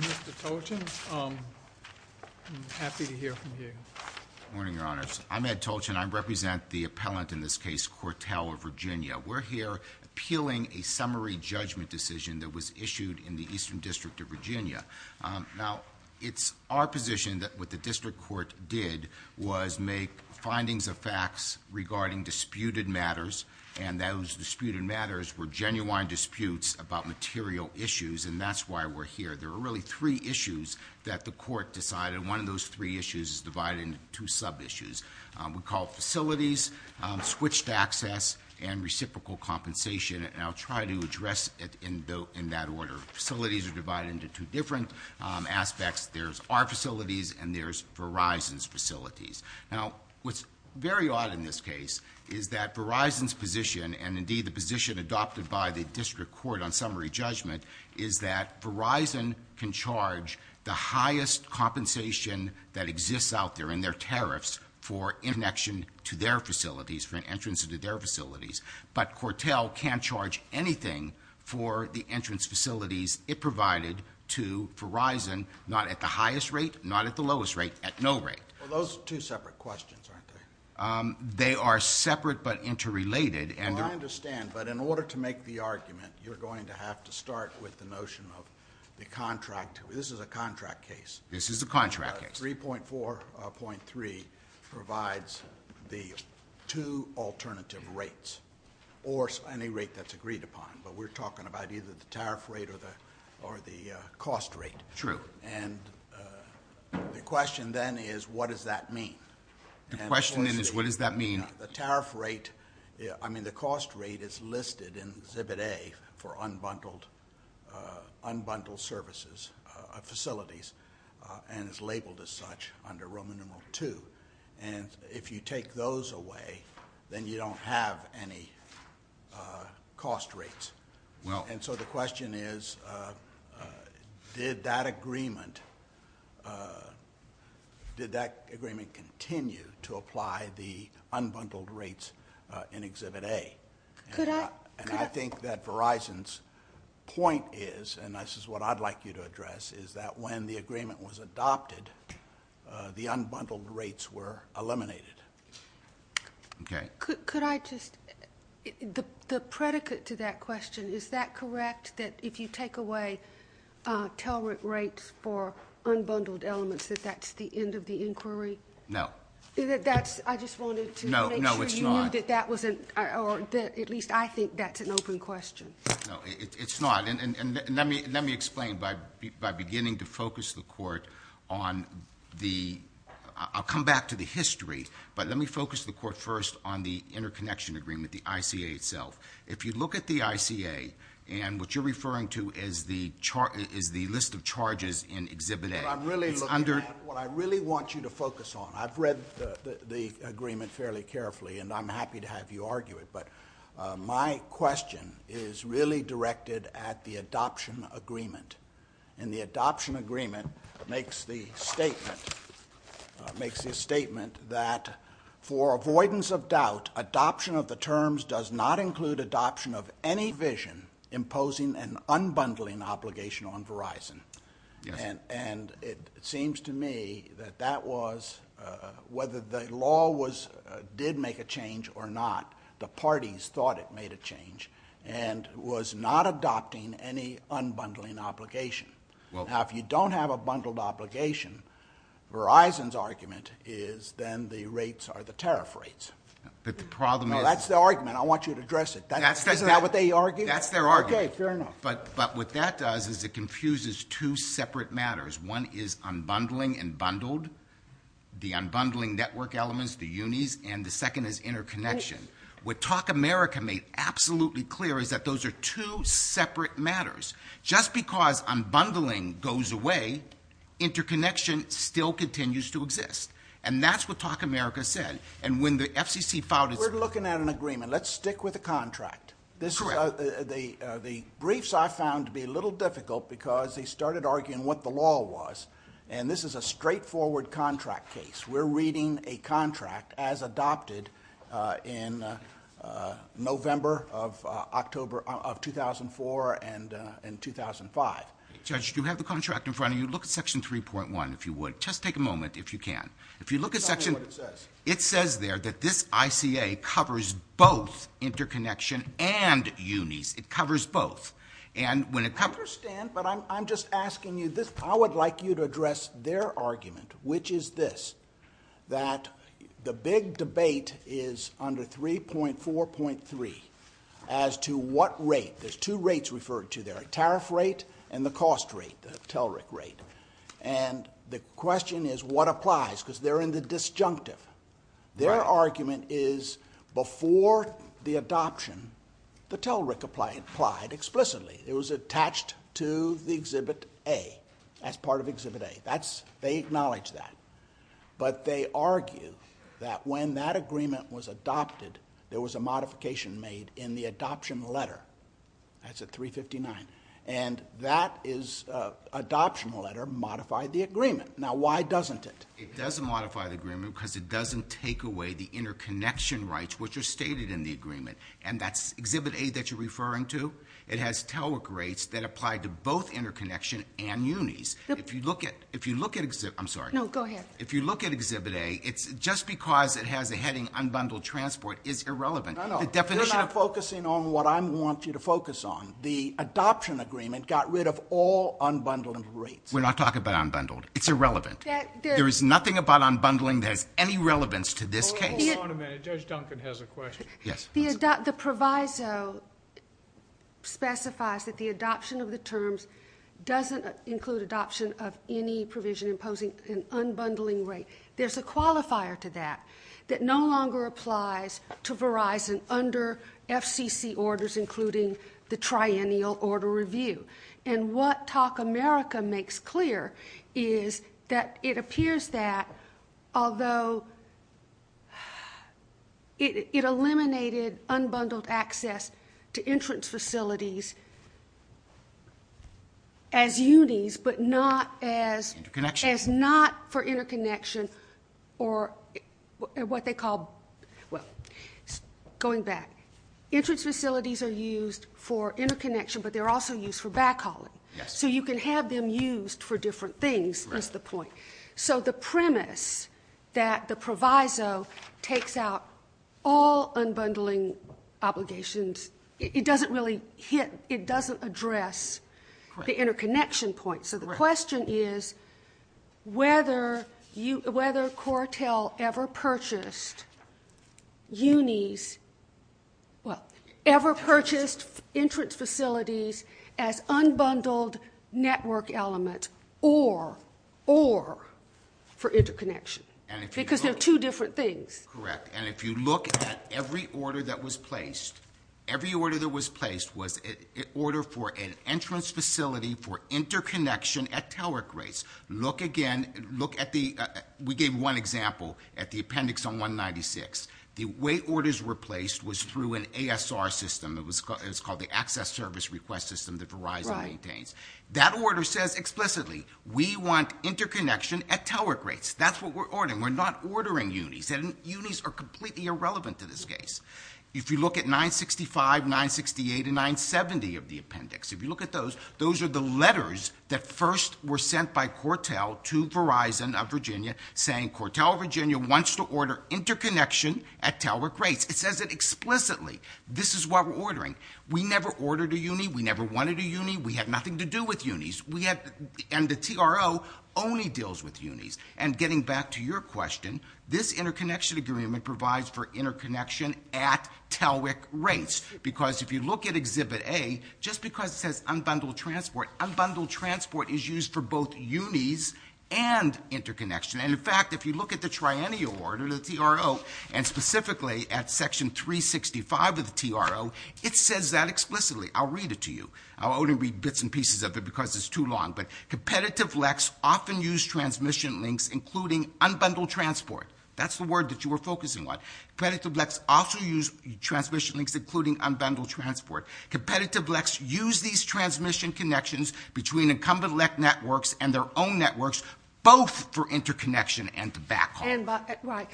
Mr. Tolchin, I'm happy to hear from you. Good morning, Your Honors. I'm Ed Tolchin. I represent the appellant in this case, Cortel of Virginia. We're here appealing a summary judgment decision that was issued in the Eastern District of Virginia. Now, it's our position that what the district court did was make findings of facts regarding disputed matters, and those disputed matters were genuine disputes about material issues, and that's why we're here. There are really three issues that the court decided, and one of those three issues is divided into two sub-issues. We call it facilities, switched access, and reciprocal compensation, and I'll try to address it in that order. Facilities are divided into two different aspects. There's our facilities, and there's Verizon's facilities. Now, what's very odd in this case is that Verizon's position, and indeed the position adopted by the district court on summary judgment, is that Verizon can charge the highest compensation that exists out there in their tariffs for interaction to their facilities, for an entrance into their facilities, but Cortel can't charge anything for the entrance facilities it provided to Verizon, not at the highest rate, not at the lowest rate, at no rate. Well, those are two separate questions, aren't they? They are separate but interrelated. Well, I understand, but in order to make the argument, you're going to have to start with the notion of the contract. This is a contract case. This is a contract case. 3.4.3 provides the two alternative rates or any rate that's agreed upon, but we're talking about either the tariff rate or the cost rate. True. And the question then is, what does that mean? The question then is, what does that mean? The tariff rate, I mean, the cost rate is listed in exhibit A for unbundled services, facilities, and is labeled as such under Roman numeral II. And if you take those away, then you don't have any cost rates. And so the question is, did that agreement continue to apply the unbundled rates in exhibit A? And I think that Verizon's point is, and this is what I'd like you to address, is that when the agreement was adopted, the unbundled rates were eliminated. Okay. Could I just, the predicate to that question, is that correct, that if you take away tell rent rates for unbundled elements, that that's the end of the inquiry? No. I just wanted to make sure you knew that that wasn't, or at least I think that's an open question. No, it's not. And let me explain by beginning to focus the court on the, I'll come back to the history, but let me focus the court first on the interconnection agreement, the ICA itself. If you look at the ICA, and what you're referring to is the list of charges in exhibit A. What I really want you to focus on, I've read the agreement fairly carefully, and I'm happy to have you argue it, but my question is really directed at the adoption agreement. And the adoption agreement makes the statement that for avoidance of doubt, adoption of the terms does not include adoption of any vision imposing an unbundling obligation on Verizon. And it seems to me that that was, whether the law did make a change or not, the parties thought it made a change and was not adopting any unbundling obligation. Now, if you don't have a bundled obligation, Verizon's argument is then the rates are the tariff rates. But the problem is. Well, that's their argument. I want you to address it. Isn't that what they argue? That's their argument. Okay, fair enough. But what that does is it confuses two separate matters. One is unbundling and bundled, the unbundling network elements, the UNIs, and the second is interconnection. What Talk America made absolutely clear is that those are two separate matters. Just because unbundling goes away, interconnection still continues to exist. And that's what Talk America said. And when the FCC filed its... We're looking at an agreement. Let's stick with the contract. Correct. The briefs I found to be a little difficult because they started arguing what the law was. And this is a straightforward contract case. We're reading a contract as adopted in November of 2004 and 2005. Judge, you have the contract in front of you. Look at Section 3.1 if you would. Just take a moment if you can. If you look at Section... Tell me what it says. It says there that this ICA covers both interconnection and UNIs. It covers both. And when it covers... I understand, but I'm just asking you this. I would like you to address their argument, which is this, that the big debate is under 3.4.3 as to what rate... There's two rates referred to there, a tariff rate and the cost rate, the TELRIC rate. And the question is what applies because they're in the disjunctive. Their argument is before the adoption, the TELRIC applied explicitly. It was attached to the Exhibit A as part of Exhibit A. They acknowledge that. But they argue that when that agreement was adopted, there was a modification made in the adoption letter. That's at 359. And that adoption letter modified the agreement. Now, why doesn't it? It doesn't modify the agreement because it doesn't take away the interconnection rights which are stated in the agreement, and that's Exhibit A that you're referring to. It has TELRIC rates that apply to both interconnection and unis. If you look at Exhibit A... I'm sorry. No, go ahead. If you look at Exhibit A, it's just because it has a heading, unbundled transport, is irrelevant. No, no, you're not focusing on what I want you to focus on. The adoption agreement got rid of all unbundled rates. We're not talking about unbundled. It's irrelevant. There is nothing about unbundling that has any relevance to this case. Hold on a minute. Judge Duncan has a question. Yes. The proviso specifies that the adoption of the terms doesn't include adoption of any provision imposing an unbundling rate. There's a qualifier to that that no longer applies to Verizon under FCC orders, including the triennial order review. And what Talk America makes clear is that it appears that, although it eliminated unbundled access to entrance facilities as unis, but not as... Interconnection.... as not for interconnection or what they call... Well, going back. Entrance facilities are used for interconnection, but they're also used for backhauling. Yes. So you can have them used for different things is the point. So the premise that the proviso takes out all unbundling obligations, it doesn't really hit. It doesn't address the interconnection point. So the question is whether CORTEL ever purchased unis... Well, ever purchased entrance facilities as unbundled network element or for interconnection because they're two different things. Correct. And if you look at every order that was placed, every order that was placed was an order for an entrance facility for interconnection at tower grates. Look again. Look at the... We gave one example at the appendix on 196. The way orders were placed was through an ASR system. It was called the Access Service Request System that Verizon maintains. That order says explicitly we want interconnection at tower grates. That's what we're ordering. We're not ordering unis. Unis are completely irrelevant to this case. If you look at 965, 968, and 970 of the appendix, if you look at those, those are the letters that first were sent by CORTEL to Verizon of Virginia saying CORTEL Virginia wants to order interconnection at tower grates. It says it explicitly. This is what we're ordering. We never ordered a uni. We never wanted a uni. We had nothing to do with unis. And the TRO only deals with unis. And getting back to your question, this interconnection agreement provides for interconnection at tower grates because if you look at Exhibit A, just because it says unbundled transport, unbundled transport is used for both unis and interconnection. And, in fact, if you look at the Triennial Order, the TRO, and specifically at Section 365 of the TRO, it says that explicitly. I'll read it to you. I'll only read bits and pieces of it because it's too long. But competitive LECs often use transmission links, including unbundled transport. That's the word that you were focusing on. Competitive LECs also use transmission links, including unbundled transport. Competitive LECs use these transmission connections between incumbent LEC networks and their own networks both for interconnection and the back home.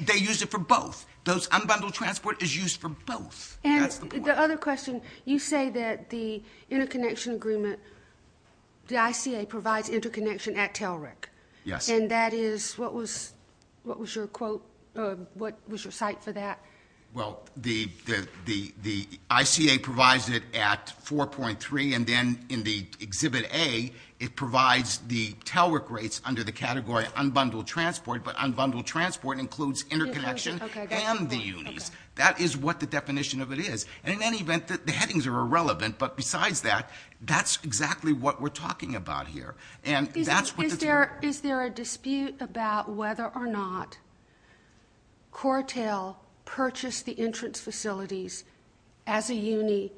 They use it for both. Those unbundled transport is used for both. And the other question, you say that the interconnection agreement, the ICA provides interconnection at TELRIC. Yes. And that is what was your quote, what was your cite for that? Well, the ICA provides it at 4.3, and then in the Exhibit A it provides the TELRIC rates under the category unbundled transport, but unbundled transport includes interconnection and the unis. That is what the definition of it is. And in any event, the headings are irrelevant. But besides that, that's exactly what we're talking about here. Is there a dispute about whether or not CORTEL purchased the entrance facilities as a uni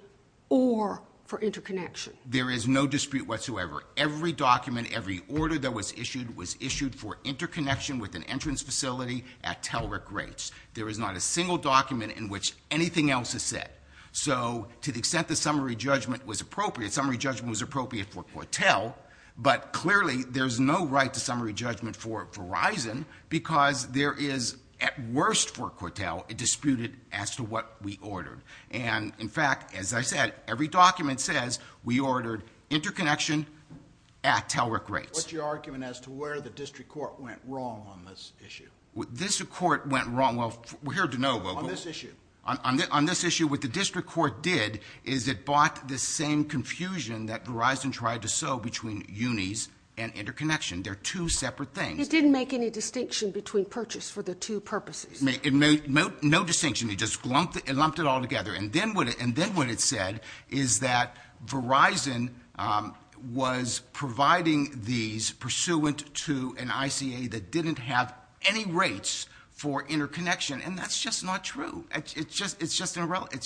or for interconnection? There is no dispute whatsoever. Every document, every order that was issued was issued for interconnection with an entrance facility at TELRIC rates. There is not a single document in which anything else is said. So to the extent that summary judgment was appropriate, summary judgment was appropriate for CORTEL, but clearly there's no right to summary judgment for Verizon because there is, at worst for CORTEL, a disputed as to what we ordered. And, in fact, as I said, every document says we ordered interconnection at TELRIC rates. What's your argument as to where the district court went wrong on this issue? This court went wrong, well, we're here to know, Wilco. On this issue. On this issue, what the district court did is it bought the same confusion that Verizon tried to sow between unis and interconnection. They're two separate things. It didn't make any distinction between purchase for the two purposes. It made no distinction. It just lumped it all together. And then what it said is that Verizon was providing these pursuant to an ICA that didn't have any rates for interconnection. And that's just not true. It's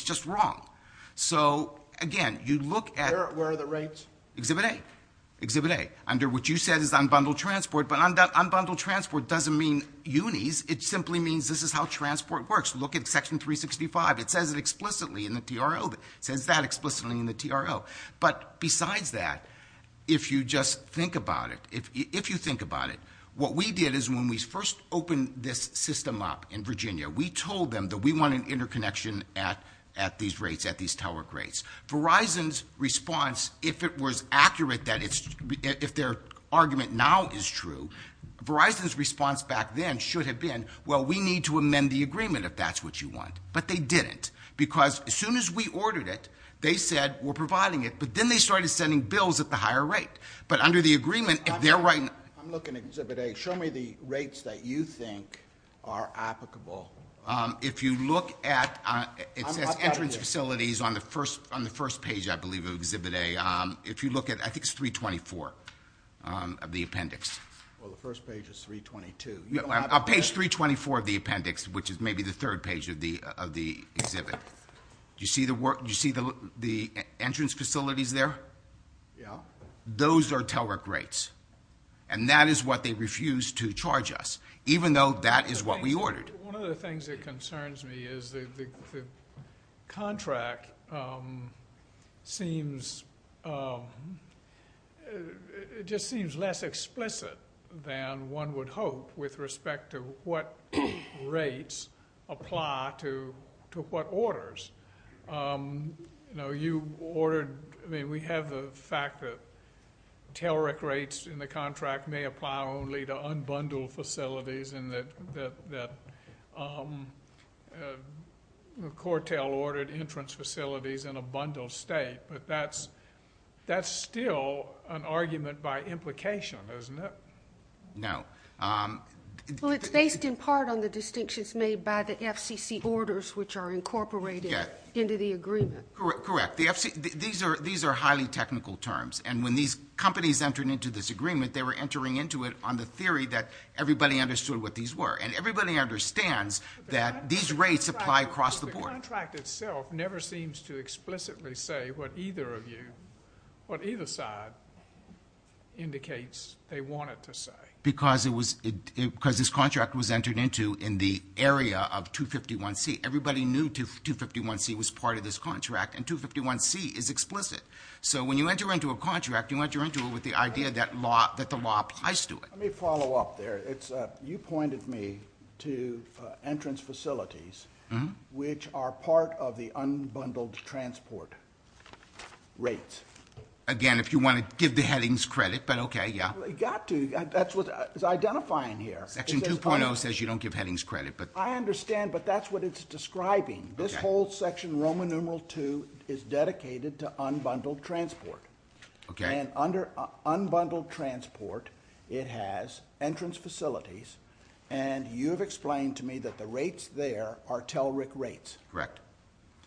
just wrong. So, again, you look at- Where are the rates? Exhibit A. Exhibit A. Under what you said is unbundled transport, but unbundled transport doesn't mean unis. It simply means this is how transport works. Look at section 365. It says it explicitly in the TRO. It says that explicitly in the TRO. But besides that, if you just think about it, if you think about it, what we did is when we first opened this system up in Virginia, we told them that we wanted interconnection at these rates, at these tower grades. Verizon's response, if it was accurate that it's-if their argument now is true, Verizon's response back then should have been, well, we need to amend the agreement if that's what you want. But they didn't. Because as soon as we ordered it, they said we're providing it. But then they started sending bills at the higher rate. But under the agreement, if they're right- I'm looking at Exhibit A. Show me the rates that you think are applicable. If you look at- It says entrance facilities on the first page, I believe, of Exhibit A. If you look at-I think it's 324 of the appendix. Well, the first page is 322. Page 324 of the appendix, which is maybe the third page of the exhibit. Do you see the work-do you see the entrance facilities there? Yeah. Those are tower grades. And that is what they refused to charge us, even though that is what we ordered. One of the things that concerns me is the contract seems-it just seems less explicit than one would hope with respect to what rates apply to what orders. You know, you ordered-I mean, we have the fact that tailor-rick rates in the contract may apply only to unbundled facilities and that Cortel ordered entrance facilities in a bundled state. But that's still an argument by implication, isn't it? No. Well, it's based in part on the distinctions made by the FCC orders, which are incorporated into the agreement. Correct. These are highly technical terms. And when these companies entered into this agreement, they were entering into it on the theory that everybody understood what these were. And everybody understands that these rates apply across the board. The contract itself never seems to explicitly say what either of you-what either side indicates they wanted to say. Because it was-because this contract was entered into in the area of 251C. Everybody knew 251C was part of this contract, and 251C is explicit. So when you enter into a contract, you enter into it with the idea that the law applies to it. Let me follow up there. You pointed me to entrance facilities which are part of the unbundled transport rates. Again, if you want to give the headings credit, but okay, yeah. You've got to. That's what it's identifying here. Section 2.0 says you don't give headings credit, but- I understand, but that's what it's describing. This whole section, Roman numeral 2, is dedicated to unbundled transport. Okay. And under unbundled transport, it has entrance facilities, and you've explained to me that the rates there are TELRIC rates. Correct.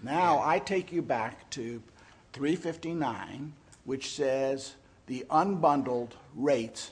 Now I take you back to 359, which says the unbundled rates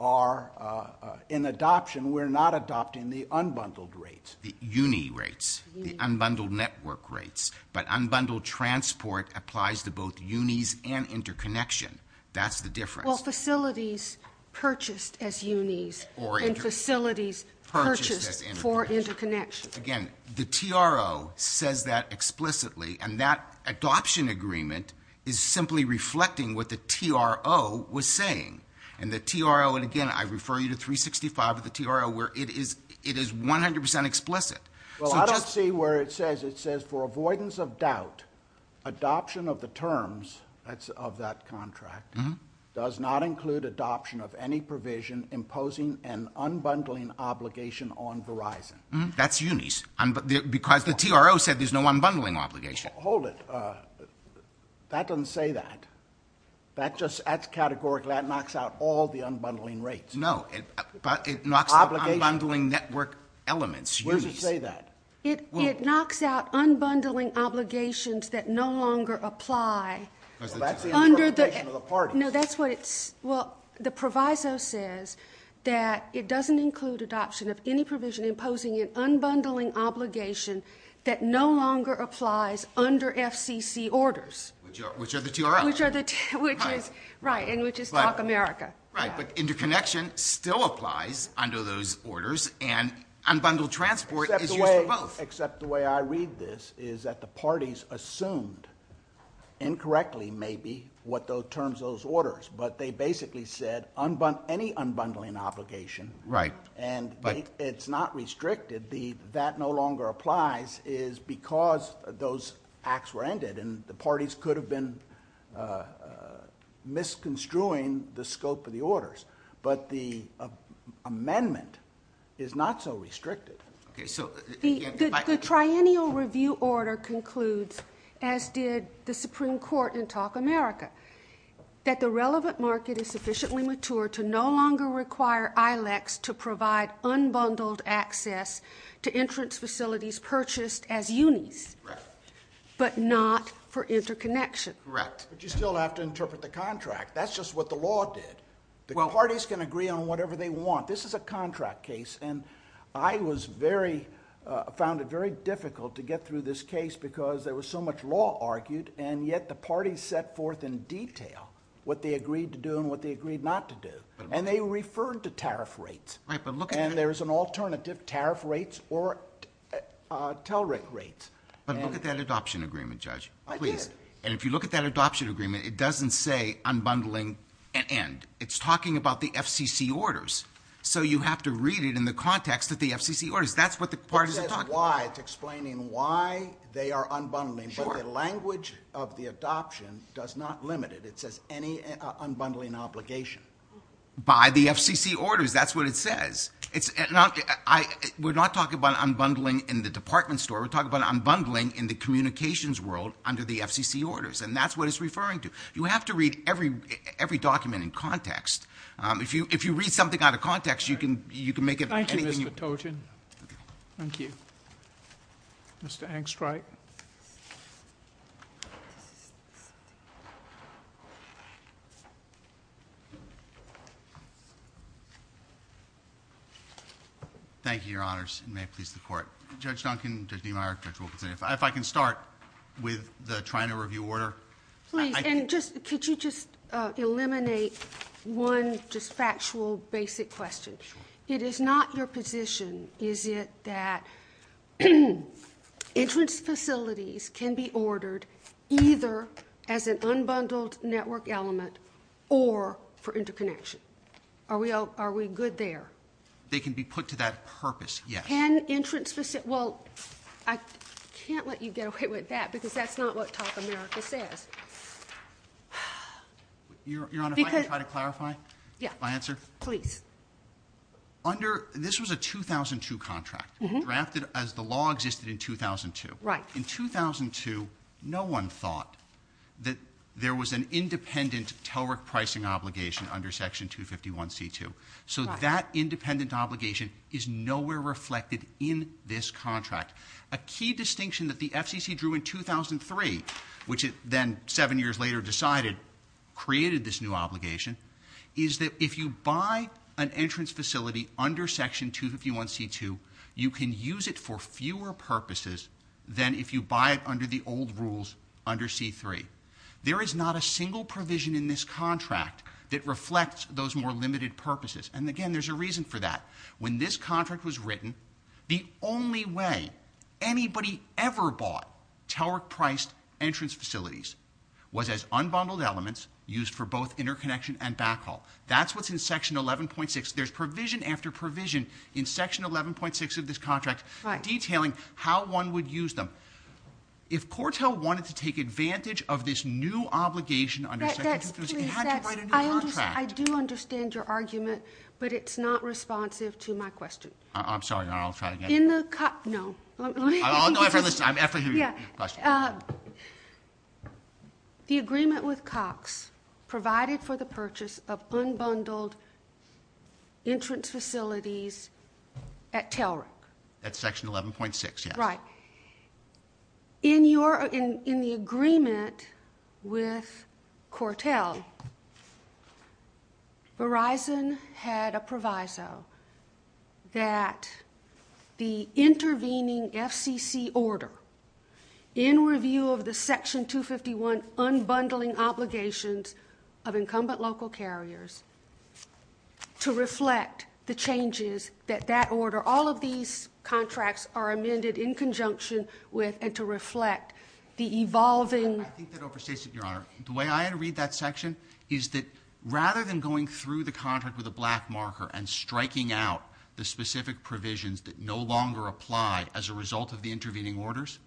are in adoption. We're not adopting the unbundled rates. The UNI rates, the unbundled network rates. But unbundled transport applies to both UNIs and interconnection. That's the difference. Well, facilities purchased as UNIs and facilities purchased for interconnection. Again, the TRO says that explicitly, and that adoption agreement is simply reflecting what the TRO was saying. And the TRO, and again, I refer you to 365 of the TRO, where it is 100% explicit. Well, I don't see where it says. It says, for avoidance of doubt, adoption of the terms of that contract does not include adoption of any provision imposing an unbundling obligation on Verizon. That's UNIs. Because the TRO said there's no unbundling obligation. Hold it. That doesn't say that. That's categorical. That knocks out all the unbundling rates. No, but it knocks out unbundling network elements, UNIs. Where does it say that? It knocks out unbundling obligations that no longer apply. Well, that's the interpretation of the parties. Well, the proviso says that it doesn't include adoption of any provision imposing an unbundling obligation that no longer applies under FCC orders. Which are the TRO. Right, and which is Talk America. Right, but interconnection still applies under those orders, and unbundled transport is used for both. Except the way I read this is that the parties assumed, incorrectly maybe, what those terms, those orders. But they basically said any unbundling obligation. Right. And it's not restricted. That no longer applies is because those acts were ended, and the parties could have been misconstruing the scope of the orders. But the amendment is not so restricted. Okay, so. The Triennial Review Order concludes, as did the Supreme Court in Talk America, that the relevant market is sufficiently mature to no longer require ILECs to provide unbundled access to entrance facilities purchased as UNIs. Right. But not for interconnection. Right. But you still have to interpret the contract. That's just what the law did. The parties can agree on whatever they want. This is a contract case, and I was very, found it very difficult to get through this case because there was so much law argued, and yet the parties set forth in detail what they agreed to do and what they agreed not to do. And they referred to tariff rates. Right, but look at that. And there's an alternative, tariff rates or tell rate rates. But look at that adoption agreement, Judge. I did. Please. And if you look at that adoption agreement, it doesn't say unbundling and end. It's talking about the FCC orders. So you have to read it in the context of the FCC orders. That's what the parties are talking about. It says why. It's explaining why they are unbundling. Sure. But the language of the adoption does not limit it. It says any unbundling obligation. By the FCC orders. That's what it says. We're not talking about unbundling in the department store. We're talking about unbundling in the communications world under the FCC orders. And that's what it's referring to. You have to read every document in context. If you read something out of context, you can make it. Thank you, Mr. Toten. Okay. Thank you. Mr. Angstreich. Thank you, Your Honors. And may it please the Court. Judge Duncan, Judge Niemeyer, Judge Wilkinson, if I can start with the Trianor review order. Please. And could you just eliminate one just factual basic question. Sure. It is not your position, is it, that entrance facilities can be ordered either as an unbundled network element or for interconnection. Are we good there? They can be put to that purpose, yes. Well, I can't let you get away with that because that's not what Top America says. Your Honor, if I can try to clarify my answer. Please. This was a 2002 contract drafted as the law existed in 2002. Right. In 2002, no one thought that there was an independent TELRIC pricing obligation under Section 251C2. So that independent obligation is nowhere reflected in this contract. A key distinction that the FCC drew in 2003, which it then seven years later decided created this new obligation, is that if you buy an entrance facility under Section 251C2, you can use it for fewer purposes than if you buy it under the old rules under C3. There is not a single provision in this contract that reflects those more limited purposes. And again, there's a reason for that. When this contract was written, the only way anybody ever bought TELRIC-priced entrance facilities was as unbundled elements used for both interconnection and backhaul. That's what's in Section 11.6. There's provision after provision in Section 11.6 of this contract detailing how one would use them. If CORTEL wanted to take advantage of this new obligation under Section 251C2, it had to write a new contract. I do understand your argument, but it's not responsive to my question. I'm sorry. I'll try again. No. I'll go after this. I'm after your question. Yeah. The agreement with Cox provided for the purchase of unbundled entrance facilities at TELRIC. At Section 11.6, yes. Right. In the agreement with CORTEL, Verizon had a proviso that the intervening FCC order in review of the Section 251 unbundling obligations of incumbent local carriers to reflect the changes that that order, all of these contracts are amended in conjunction with and to reflect the evolving- I think that overstates it, Your Honor. The way I had to read that section is that rather than going through the contract with a black marker and striking out the specific provisions that no longer apply as a result of the intervening orders,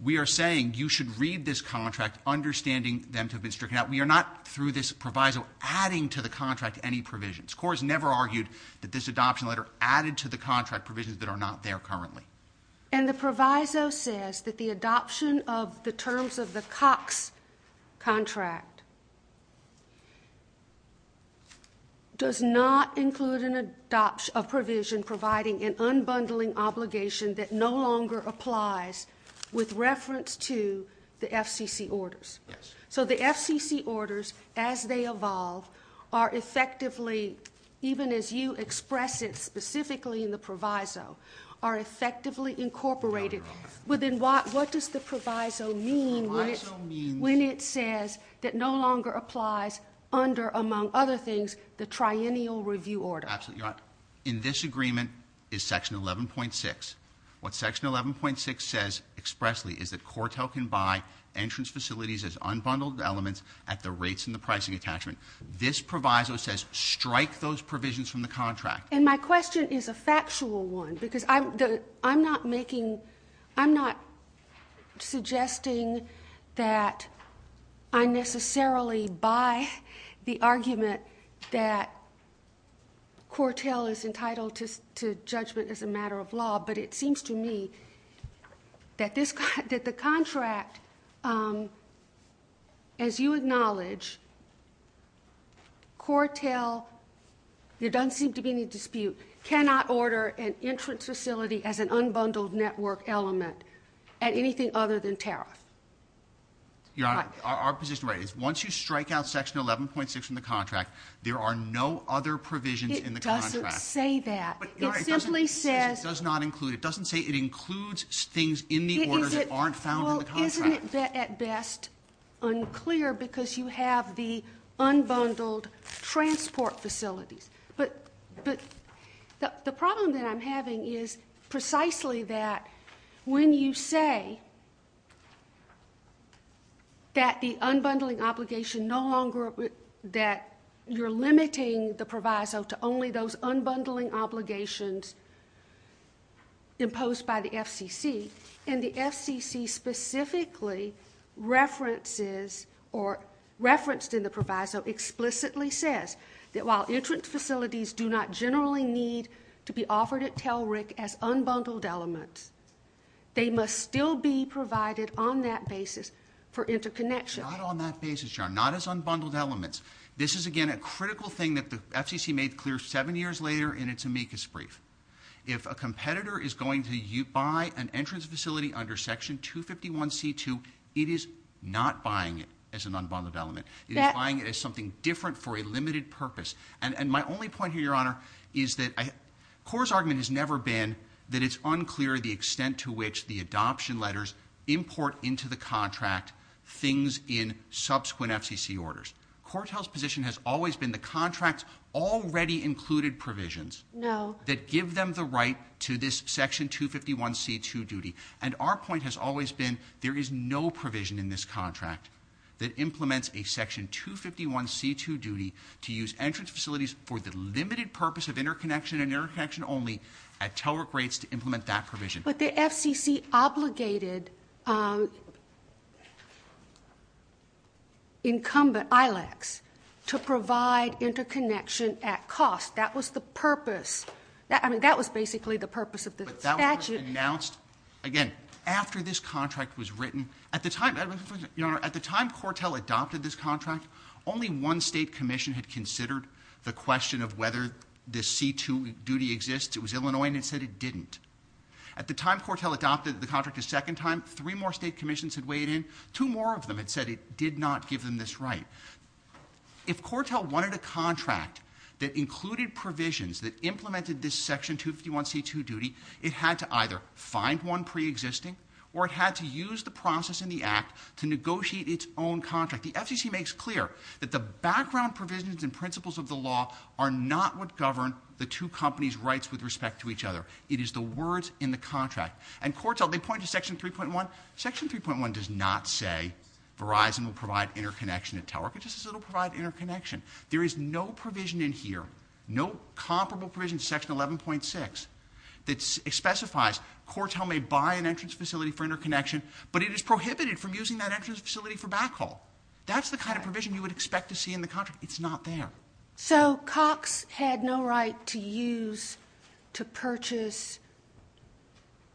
we are saying you should read this contract understanding them to have been stricken out. We are not, through this proviso, adding to the contract any provisions. CORT has never argued that this adoption letter added to the contract provisions that are not there currently. And the proviso says that the adoption of the terms of the Cox contract does not include an adoption- a provision providing an unbundling obligation that no longer applies with reference to the FCC orders. Yes. So the FCC orders, as they evolve, are effectively, even as you express it specifically in the proviso, are effectively incorporated. Your Honor. What does the proviso mean when it says that no longer applies under, among other things, the triennial review order? Absolutely, Your Honor. In this agreement is Section 11.6. What Section 11.6 says expressly is that CORTEL can buy entrance facilities as unbundled elements at the rates in the pricing attachment. This proviso says strike those provisions from the contract. And my question is a factual one because I'm not suggesting that I necessarily buy the argument that CORTEL is entitled to judgment as a matter of law. But it seems to me that the contract, as you acknowledge, CORTEL, there doesn't seem to be any dispute, cannot order an entrance facility as an unbundled network element at anything other than tariff. Your Honor, our position is once you strike out Section 11.6 from the contract, there are no other provisions in the contract. It doesn't say that. Your Honor, it doesn't say it does not include. It doesn't say it includes things in the order that aren't found in the contract. Well, isn't it at best unclear because you have the unbundled transport facilities? But the problem that I'm having is precisely that when you say that the unbundling obligation no longer, that you're limiting the proviso to only those unbundling obligations imposed by the FCC, and the FCC specifically references or referenced in the proviso explicitly says that while entrance facilities do not generally need to be offered at TELRIC as unbundled elements, they must still be provided on that basis for interconnection. Not on that basis, Your Honor, not as unbundled elements. This is, again, a critical thing that the FCC made clear seven years later in its amicus brief. If a competitor is going to buy an entrance facility under Section 251C2, it is not buying it as an unbundled element. It is buying it as something different for a limited purpose. And my only point here, Your Honor, is that CORE's argument has never been that it's unclear the extent to which the adoption letters import into the contract things in subsequent FCC orders. CORE tells position has always been the contract's already included provisions. No. That give them the right to this Section 251C2 duty. And our point has always been there is no provision in this contract that implements a Section 251C2 duty to use entrance facilities for the limited purpose of interconnection and interconnection only at TELRIC rates to implement that provision. But the FCC obligated incumbent ILACs to provide interconnection at cost. That was the purpose. I mean, that was basically the purpose of the statute. But that was announced, again, after this contract was written. At the time, Your Honor, at the time CORTEL adopted this contract, only one state commission had considered the question of whether the C2 duty exists. It was Illinois, and it said it didn't. At the time CORTEL adopted the contract a second time, three more state commissions had weighed in. Two more of them had said it did not give them this right. If CORTEL wanted a contract that included provisions that implemented this Section 251C2 duty, it had to either find one preexisting or it had to use the process in the act to negotiate its own contract. The FCC makes clear that the background provisions and principles of the law are not what govern the two companies' rights with respect to each other. It is the words in the contract. And CORTEL, they point to Section 3.1. Section 3.1 does not say Verizon will provide interconnection at telework. It just says it will provide interconnection. There is no provision in here, no comparable provision to Section 11.6, that specifies CORTEL may buy an entrance facility for interconnection, but it is prohibited from using that entrance facility for backhaul. That's the kind of provision you would expect to see in the contract. It's not there. So Cox had no right to use, to purchase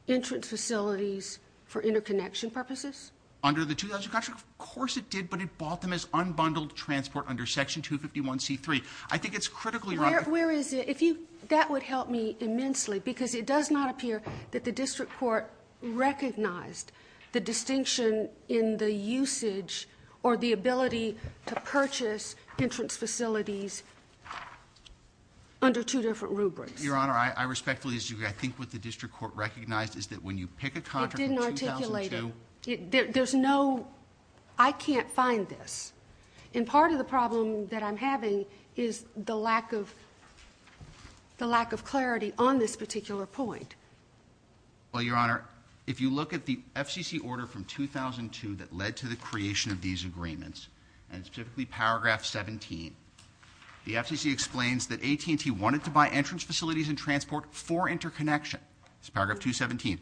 entrance facilities for interconnection purposes? Under the 2000 contract, of course it did, but it bought them as unbundled transport under Section 251C3. I think it's critically wrong. Where is it? That would help me immensely because it does not appear that the district court recognized the distinction in the usage or the ability to purchase entrance facilities under two different rubrics. Your Honor, I respectfully disagree. I think what the district court recognized is that when you pick a contract from 2002. It didn't articulate it. There's no, I can't find this. And part of the problem that I'm having is the lack of clarity on this particular point. Well, Your Honor, if you look at the FCC order from 2002 that led to the creation of these agreements, and it's typically paragraph 17. The FCC explains that AT&T wanted to buy entrance facilities and transport for interconnection. It's paragraph 217.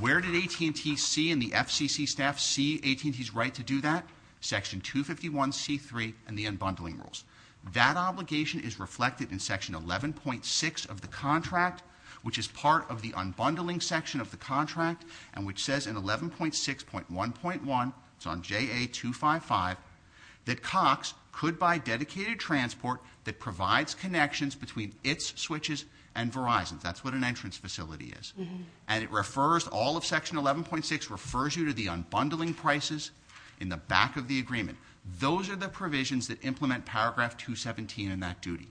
Where did AT&T see and the FCC staff see AT&T's right to do that? Section 251C3 and the unbundling rules. That obligation is reflected in section 11.6 of the contract, which is part of the unbundling section of the contract. And which says in 11.6.1.1, it's on JA255, that Cox could buy dedicated transport that provides connections between its switches and Verizon's. That's what an entrance facility is. And it refers, all of section 11.6 refers you to the unbundling prices in the back of the agreement. Those are the provisions that implement paragraph 217 in that duty.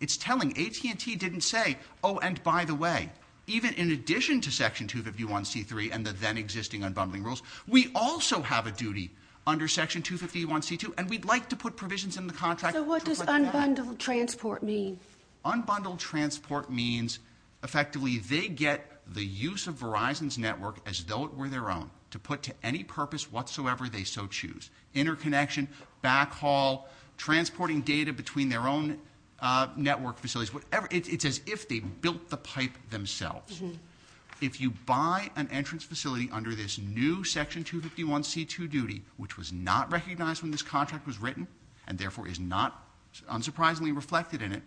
It's telling. AT&T didn't say, oh, and by the way, even in addition to section 251C3 and the then existing unbundling rules, we also have a duty under section 251C2, and we'd like to put provisions in the contract. So what does unbundled transport mean? Unbundled transport means effectively they get the use of Verizon's network as though it were their own, to put to any purpose whatsoever they so choose. Interconnection, backhaul, transporting data between their own network facilities, whatever. It's as if they built the pipe themselves. If you buy an entrance facility under this new section 251C2 duty, which was not recognized when this contract was written, and therefore is not unsurprisingly reflected in it,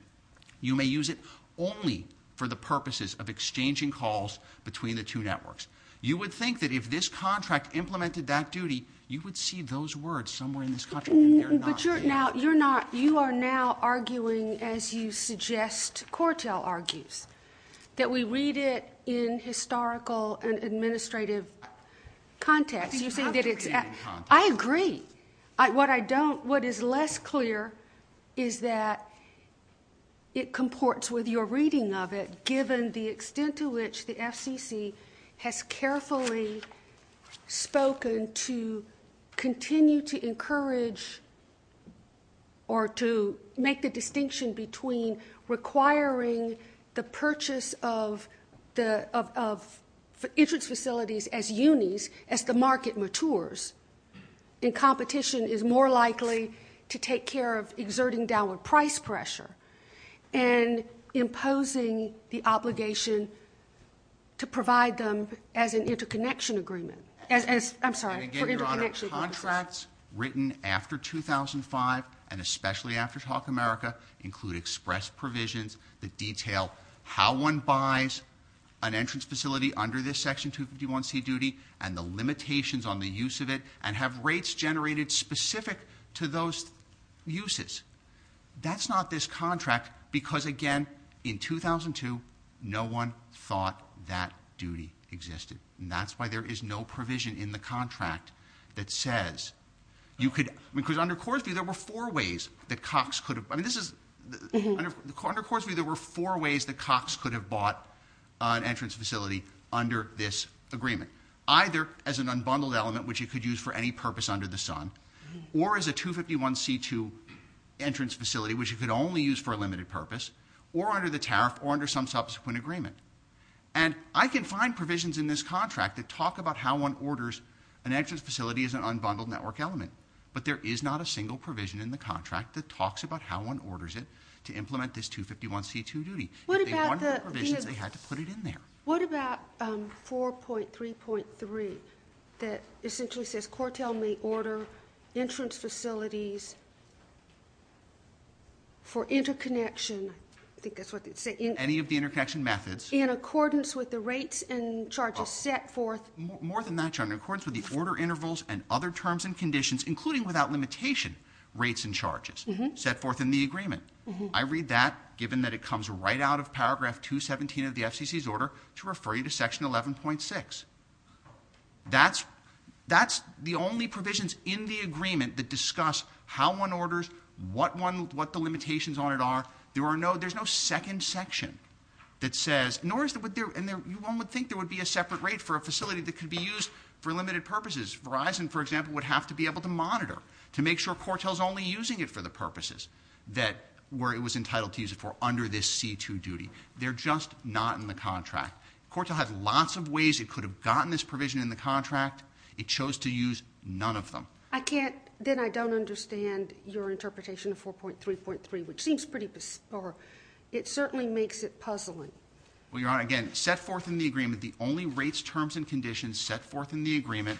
you may use it only for the purposes of exchanging calls between the two networks. You would think that if this contract implemented that duty, you would see those words somewhere in this contract, and they're not. But you're not, you are now arguing as you suggest, that we read it in historical and administrative context. I agree. What I don't, what is less clear is that it comports with your reading of it, given the extent to which the FCC has carefully spoken to continue to encourage or to make the distinction between requiring the purchase of entrance facilities as unis, as the market matures, and competition is more likely to take care of exerting downward price pressure and imposing the obligation to provide them as an interconnection agreement. Contracts written after 2005, and especially after Talk America, include express provisions that detail how one buys an entrance facility under this section 251C duty, and the limitations on the use of it, and have rates generated specific to those uses. That's not this contract, because again, in 2002, no one thought that duty existed. And that's why there is no provision in the contract that says you could, because under Coors View, there were four ways that Cox could have, I mean, this is, under Coors View, there were four ways that Cox could have bought an entrance facility under this agreement. Either as an unbundled element, which he could use for any purpose under the sun, or as a 251C2 entrance facility, which he could only use for a limited purpose, or under the tariff, or under some subsequent agreement. And I can find provisions in this contract that talk about how one orders an entrance facility as an unbundled network element, but there is not a single provision in the contract that talks about how one orders it to implement this 251C2 duty. If they wanted the provisions, they had to put it in there. What about 4.3.3 that essentially says, the court may order entrance facilities for interconnection. I think that's what they say. Any of the interconnection methods. In accordance with the rates and charges set forth. More than that, John. In accordance with the order intervals and other terms and conditions, including without limitation, rates and charges set forth in the agreement. I read that, given that it comes right out of paragraph 217 of the FCC's order, to refer you to section 11.6. That's the only provisions in the agreement that discuss how one orders, what the limitations on it are. There's no second section that says, nor is there, and one would think there would be a separate rate for a facility that could be used for limited purposes. Verizon, for example, would have to be able to monitor to make sure Cortel's only using it for the purposes where it was entitled to use it for under this C2 duty. They're just not in the contract. Cortel had lots of ways it could have gotten this provision in the contract. It chose to use none of them. I can't, then I don't understand your interpretation of 4.3.3, which seems pretty, or it certainly makes it puzzling. Well, Your Honor, again, set forth in the agreement, the only rates, terms, and conditions set forth in the agreement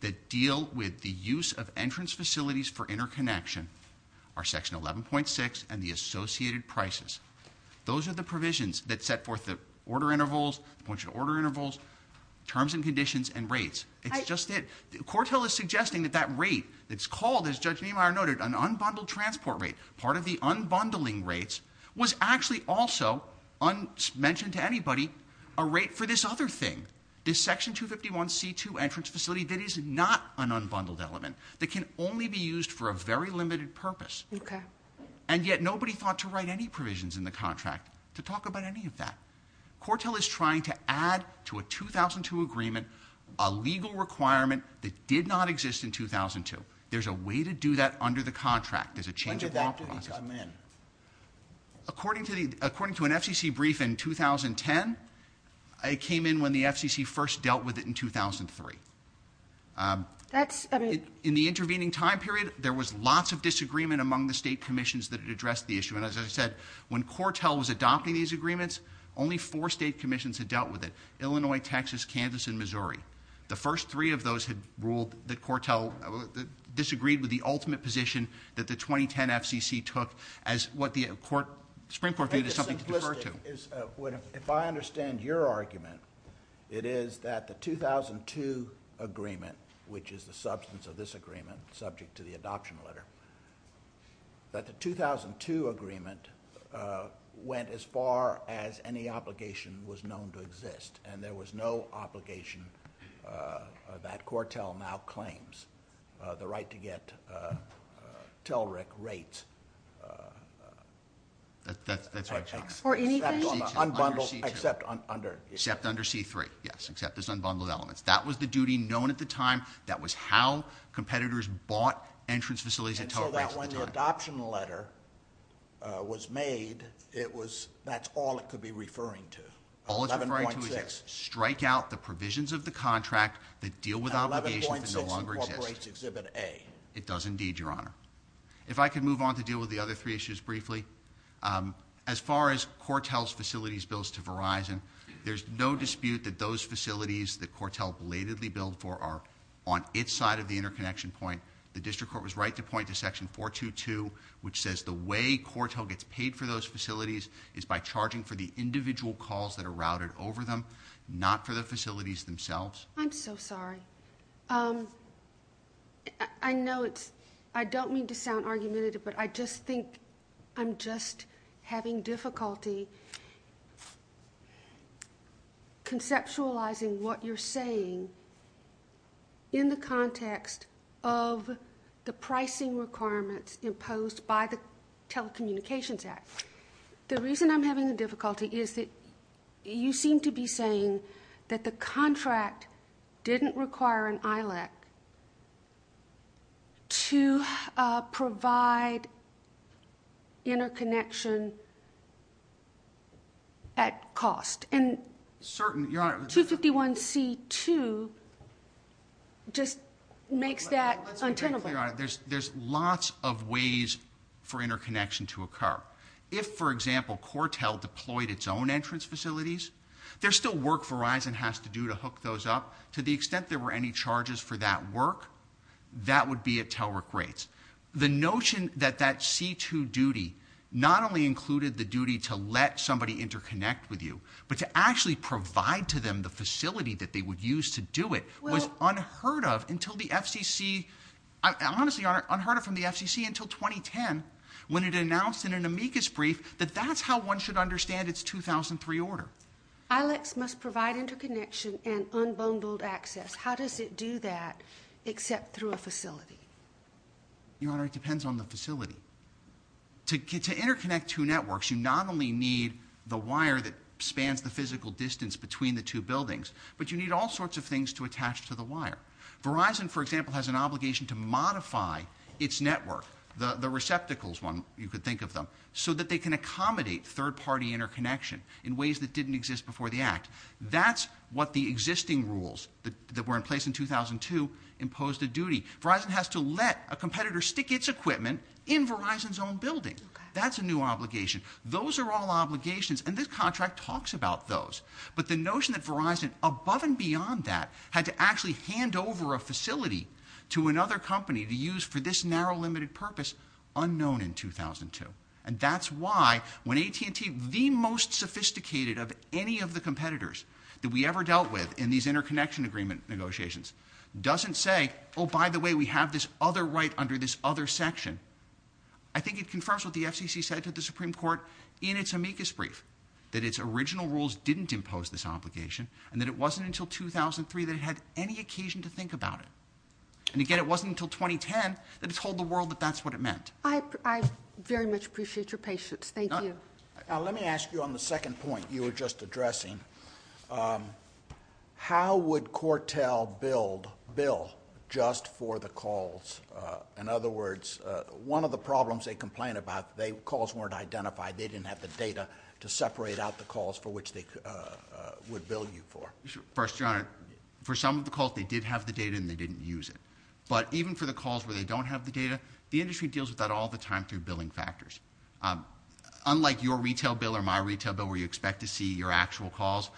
that deal with the use of entrance facilities for interconnection are section 11.6 and the associated prices. Those are the provisions that set forth the order intervals, the point of order intervals, terms and conditions, and rates. It's just it. Cortel is suggesting that that rate that's called, as Judge Niemeyer noted, an unbundled transport rate, part of the unbundling rates, was actually also, unmentioned to anybody, a rate for this other thing, this section 251 C2 entrance facility that is not an unbundled element, that can only be used for a very limited purpose. Okay. And yet nobody thought to write any provisions in the contract to talk about any of that. Cortel is trying to add to a 2002 agreement a legal requirement that did not exist in 2002. There's a way to do that under the contract. There's a change of law process. When did that brief come in? According to an FCC brief in 2010, it came in when the FCC first dealt with it in 2003. That's, I mean... In the intervening time period, there was lots of disagreement among the state commissions that had addressed the issue. And as I said, when Cortel was adopting these agreements, only four state commissions had dealt with it, Illinois, Texas, Kansas, and Missouri. The first three of those had ruled that Cortel disagreed with the ultimate position that the 2010 FCC took as what the Supreme Court viewed as something to defer to. If I understand your argument, it is that the 2002 agreement, which is the substance of this agreement, subject to the adoption letter, that the 2002 agreement went as far as any obligation was known to exist, and there was no obligation that Cortel now claims the right to get TELRIC rates... That's right, Chuck. For anything? Unbundled, except under... Except under C-3, yes. Except there's unbundled elements. That was the duty known at the time. That was how competitors bought entrance facilities at TELRIC rates at the time. And so that when the adoption letter was made, that's all it could be referring to? All it's referring to is strike out the provisions of the contract that deal with obligations that no longer exist. And 11.6 incorporates Exhibit A. It does indeed, Your Honor. If I could move on to deal with the other three issues briefly. As far as Cortel's facilities bills to Verizon, there's no dispute that those facilities that Cortel belatedly billed for are on its side of the interconnection point. The district court was right to point to Section 422, which says the way Cortel gets paid for those facilities is by charging for the individual calls that are routed over them, not for the facilities themselves. I'm so sorry. I know it's... I don't mean to sound argumentative, but I just think I'm just having difficulty... ..conceptualizing what you're saying in the context of the pricing requirements imposed by the Telecommunications Act. The reason I'm having a difficulty is that you seem to be saying that the contract didn't require an ILEC to provide interconnection... ..and 251C2 just makes that untenable. Let's be very clear on it. There's lots of ways for interconnection to occur. If, for example, Cortel deployed its own entrance facilities, there's still work Verizon has to do to hook those up. To the extent there were any charges for that work, that would be at TELRIC rates. The notion that that C2 duty not only included the duty to let somebody interconnect with you, but to actually provide to them the facility that they would use to do it was unheard of until the FCC... Honestly, Your Honor, unheard of from the FCC until 2010 when it announced in an amicus brief that that's how one should understand its 2003 order. ILECs must provide interconnection and unbundled access. How does it do that except through a facility? Your Honor, it depends on the facility. To interconnect two networks, you not only need the wire that spans the physical distance between the two buildings, but you need all sorts of things to attach to the wire. Verizon, for example, has an obligation to modify its network, the receptacles one, you could think of them, so that they can accommodate third-party interconnection in ways that didn't exist before the act. That's what the existing rules that were in place in 2002 imposed a duty. Verizon has to let a competitor stick its equipment in Verizon's own building. That's a new obligation. Those are all obligations, and this contract talks about those. But the notion that Verizon, above and beyond that, had to actually hand over a facility to another company to use for this narrow, limited purpose, unknown in 2002. And that's why when AT&T, the most sophisticated of any of the competitors that we ever dealt with in these interconnection agreement negotiations, doesn't say, oh, by the way, we have this other right under this other section, I think it confirms what the FCC said to the Supreme Court in its amicus brief, that its original rules didn't impose this obligation and that it wasn't until 2003 that it had any occasion to think about it. And again, it wasn't until 2010 that it told the world that that's what it meant. I very much appreciate your patience. Thank you. Let me ask you on the second point you were just addressing. How would Cortel bill just for the calls? In other words, one of the problems they complain about, the calls weren't identified, they didn't have the data to separate out the calls for which they would bill you for. First, Your Honor, for some of the calls, they did have the data and they didn't use it. But even for the calls where they don't have the data, the industry deals with that all the time through billing factors. Unlike your retail bill or my retail bill, where you expect to see your actual calls,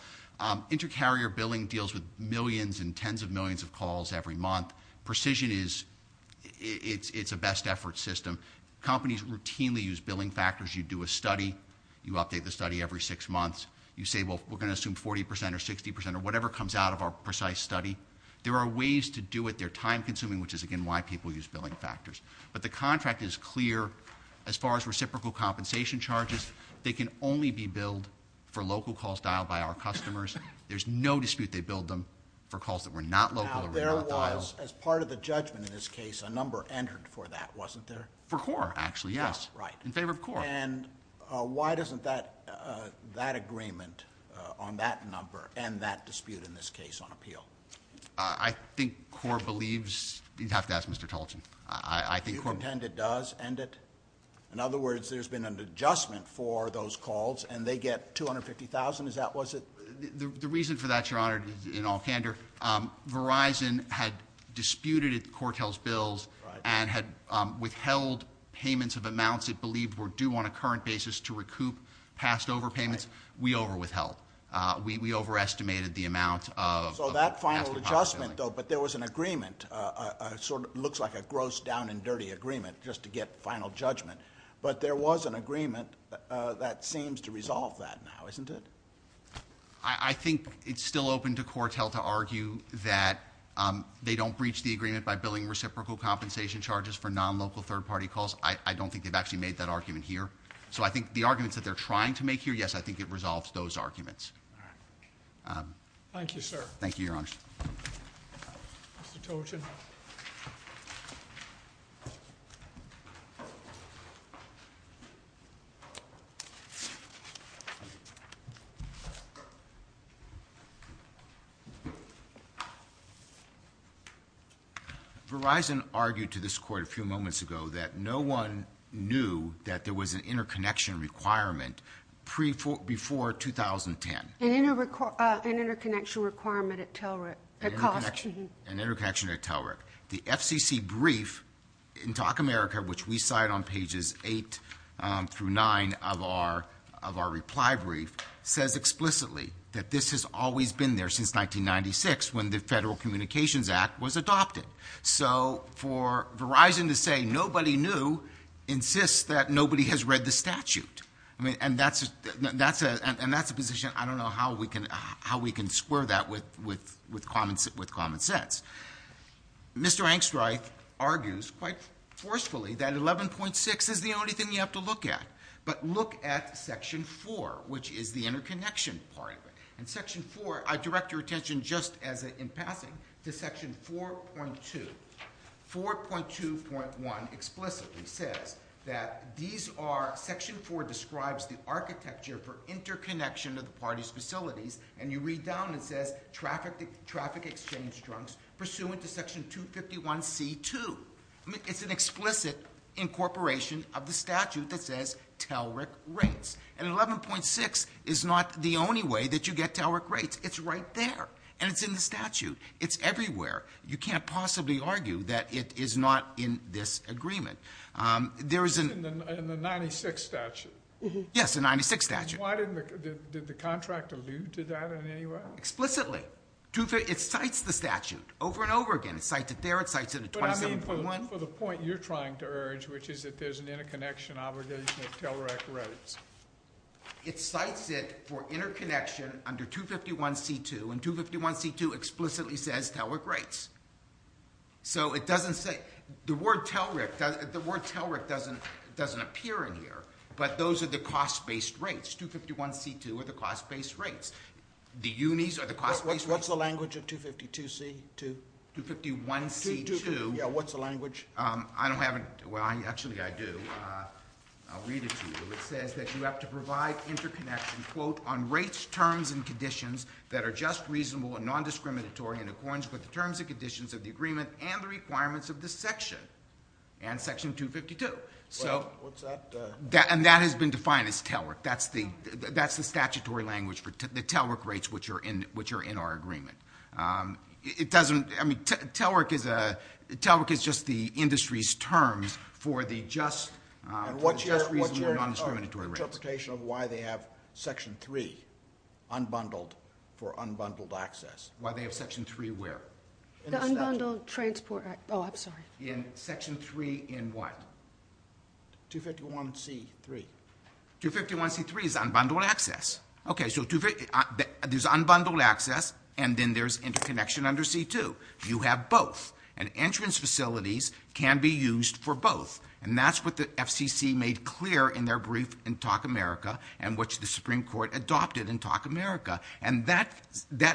inter-carrier billing deals with millions and tens of millions of calls every month. Precision is a best-effort system. Companies routinely use billing factors. You do a study, you update the study every six months. You say, well, we're going to assume 40% or 60% or whatever comes out of our precise study. There are ways to do it. They're time-consuming, which is, again, why people use billing factors. But the contract is clear. As far as reciprocal compensation charges, they can only be billed for local calls dialed by our customers. There's no dispute they billed them for calls that were not local or were not dialed. Now, there was, as part of the judgment in this case, a number entered for that, wasn't there? For CORE, actually, yes. Right. In favor of CORE. And why doesn't that agreement on that number end that dispute in this case on appeal? I think CORE believes you'd have to ask Mr. Talton. You contend it does end it? In other words, there's been an adjustment for those calls and they get $250,000? The reason for that, Your Honor, in all candor, Verizon had disputed CORTEL's bills and had withheld payments of amounts it believed were due on a current basis to recoup passed over payments. We overwithheld. We overestimated the amount of passed over payments. So that final adjustment, though, but there was an agreement, sort of looks like a gross down-and-dirty agreement, just to get final judgment. But there was an agreement that seems to resolve that now, isn't it? I think it's still open to CORTEL to argue that they don't breach the agreement by billing reciprocal compensation charges for non-local third-party calls. I don't think they've actually made that argument here. So I think the arguments that they're trying to make here, yes, I think it resolves those arguments. Thank you, sir. Thank you, Your Honor. Mr. Talton. Verizon argued to this court a few moments ago that no one knew that there was an interconnection requirement before 2010. An interconnection requirement at TELRIC. An interconnection at TELRIC. The FCC brief in Talk America, which we cite on pages 8 through 9 of our reply brief, says that there was an interconnection requirement and says explicitly that this has always been there since 1996 when the Federal Communications Act was adopted. So for Verizon to say nobody knew insists that nobody has read the statute. And that's a position, I don't know how we can square that with common sense. Mr. Angstreich argues, quite forcefully, that 11.6 is the only thing you have to look at. But look at Section 4, which is the interconnection part of it. In Section 4, I direct your attention, just in passing, to Section 4.2. 4.2.1 explicitly says that these are... Section 4 describes the architecture for interconnection of the parties' facilities, and you read down, it says, traffic exchange drunks pursuant to Section 251C.2. It's an explicit incorporation of the statute that says TELRIC rates. And 11.6 is not the only way that you get TELRIC rates. It's right there, and it's in the statute. It's everywhere. You can't possibly argue that it is not in this agreement. It's in the 96 statute. Yes, the 96 statute. Did the contract allude to that in any way? Explicitly. It cites the statute over and over again. It cites it there, it cites it in 27.1. But I mean, for the point you're trying to urge, which is that there's an interconnection obligation of TELRIC rates. It cites it for interconnection under 251C.2, and 251C.2 explicitly says TELRIC rates. So it doesn't say... The word TELRIC doesn't appear in here, but those are the cost-based rates. 251C.2 are the cost-based rates. The unis are the cost-based rates. What's the language of 252C.2? 251C.2... Yeah, what's the language? I don't have a... Well, actually, I do. I'll read it to you. It says that you have to provide interconnection, quote, on rates, terms, and conditions that are just reasonable and nondiscriminatory in accordance with the terms and conditions of the agreement and the requirements of this section, and section 252. What's that? And that has been defined as TELRIC. That's the statutory language for the TELRIC rates which are in our agreement. It doesn't... I mean, TELRIC is a... It's the industry's terms for the just reasonable and nondiscriminatory rates. What's your interpretation of why they have Section 3, unbundled, for unbundled access? Why they have Section 3 where? The Unbundled Transport Act. Oh, I'm sorry. In Section 3 in what? 251C.3. 251C.3 is unbundled access. Okay, so there's unbundled access, and then there's interconnection under C.2. You have both. And entrance facilities can be used for both, and that's what the FCC made clear in their brief in TALK America and which the Supreme Court adopted in TALK America. And that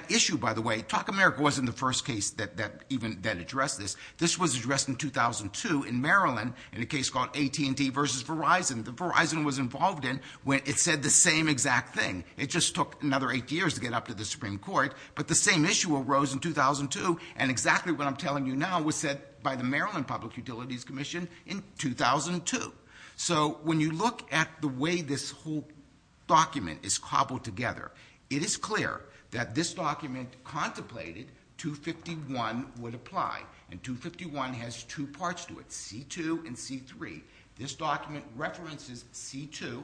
issue, by the way, TALK America wasn't the first case that even addressed this. This was addressed in 2002 in Maryland in a case called AT&T v. Verizon. Verizon was involved in when it said the same exact thing. It just took another 8 years to get up to the Supreme Court, but the same issue arose in 2002, and exactly what I'm telling you now was said by the Maryland Public Utilities Commission in 2002. So when you look at the way this whole document is cobbled together, it is clear that this document contemplated 251 would apply, and 251 has 2 parts to it, C.2. and C.3. This document references C.2.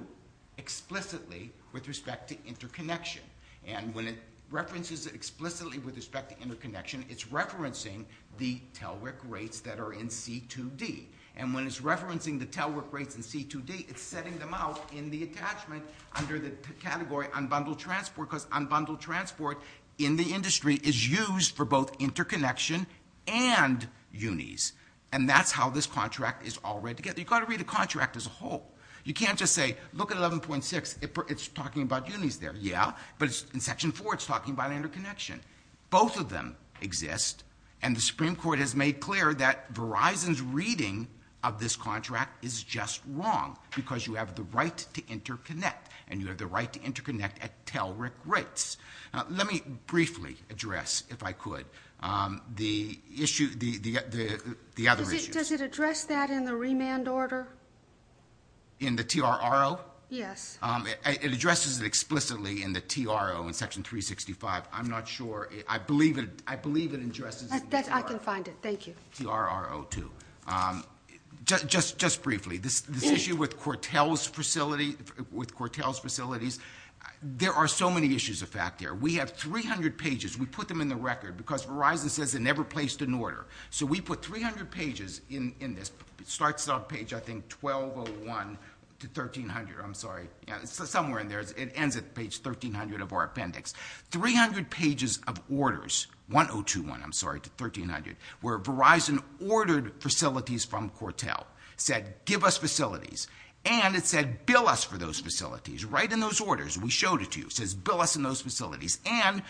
explicitly with respect to interconnection, and when it references it explicitly with respect to interconnection, it's referencing the telework rates that are in C.2.D., and when it's referencing the telework rates in C.2.D., it's setting them out in the attachment under the category unbundled transport because unbundled transport in the industry is used for both interconnection and unis, and that's how this contract is all read together. You've got to read the contract as a whole. You can't just say, look at 11.6. It's talking about unis there, yeah, but in Section 4, it's talking about interconnection. Both of them exist, and the Supreme Court has made clear that Verizon's reading of this contract is just wrong because you have the right to interconnect, and you have the right to interconnect at telework rates. Let me briefly address, if I could, the other issues. Does it address that in the remand order? In the T.R.R.O.? Yes. It addresses it explicitly in the T.R.R.O. in Section 365. I'm not sure. I believe it addresses it in the T.R.R.O. I can find it. Thank you. T.R.R.O. too. Just briefly, this issue with Cortel's facilities, there are so many issues of fact there. We have 300 pages. We put them in the record because Verizon says it never placed an order, so we put 300 pages in this. It starts on page, I think, 1201 to 1300. I'm sorry. It's somewhere in there. It ends at page 1300 of our appendix. 300 pages of orders, 1021, I'm sorry, to 1300, where Verizon ordered facilities from Cortel, said, Give us facilities, and it said, Bill us for those facilities. Write in those orders. We showed it to you. It says, Bill us in those facilities, and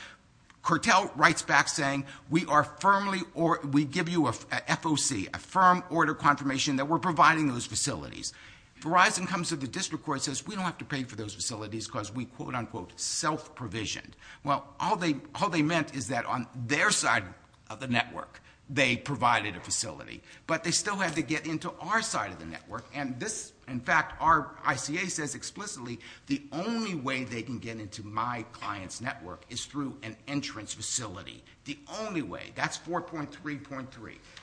Cortel writes back saying, We are firmly or we give you an FOC, a firm order confirmation that we're providing those facilities. Verizon comes to the district court and says, We don't have to pay for those facilities because we quote-unquote self-provisioned. Well, all they meant is that on their side of the network they provided a facility, but they still have to get into our side of the network, and this, in fact, our ICA says explicitly the only way they can get into my client's network is through an entrance facility. The only way. That's 4.3.3.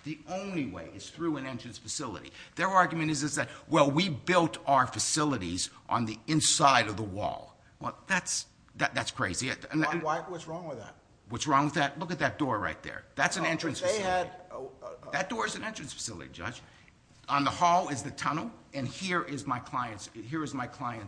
The only way is through an entrance facility. Their argument is that, Well, we built our facilities on the inside of the wall. Well, that's crazy. Why? What's wrong with that? What's wrong with that? Look at that door right there. That's an entrance facility. That door is an entrance facility, Judge. On the hall is the tunnel, and here is my client's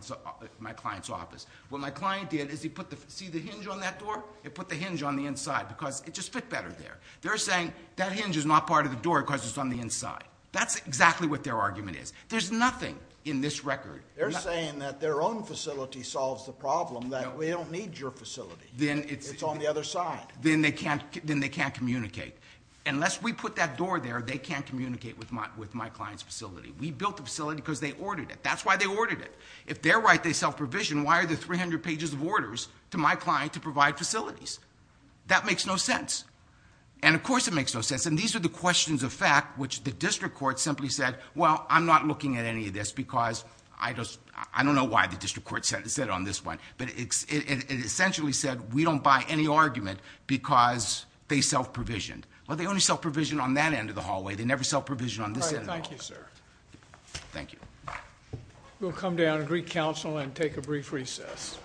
office. What my client did is he put the, see the hinge on that door? He put the hinge on the inside because it just fit better there. They're saying that hinge is not part of the door because it's on the inside. That's exactly what their argument is. There's nothing in this record. They're saying that their own facility solves the problem, that we don't need your facility. It's on the other side. Then they can't communicate. Unless we put that door there, they can't communicate with my client's facility. We built the facility because they ordered it. That's why they ordered it. If they're right, they self-provision. Why are there 300 pages of orders to my client to provide facilities? That makes no sense. And, of course, it makes no sense, and these are the questions of fact which the district court simply said, well, I'm not looking at any of this because I don't know why the district court said it on this one. But it essentially said we don't buy any argument because they self-provisioned. Well, they only self-provisioned on that end of the hallway. They never self-provisioned on this end of the hallway. Thank you, sir. Thank you. We'll come down and greet counsel and take a brief recess.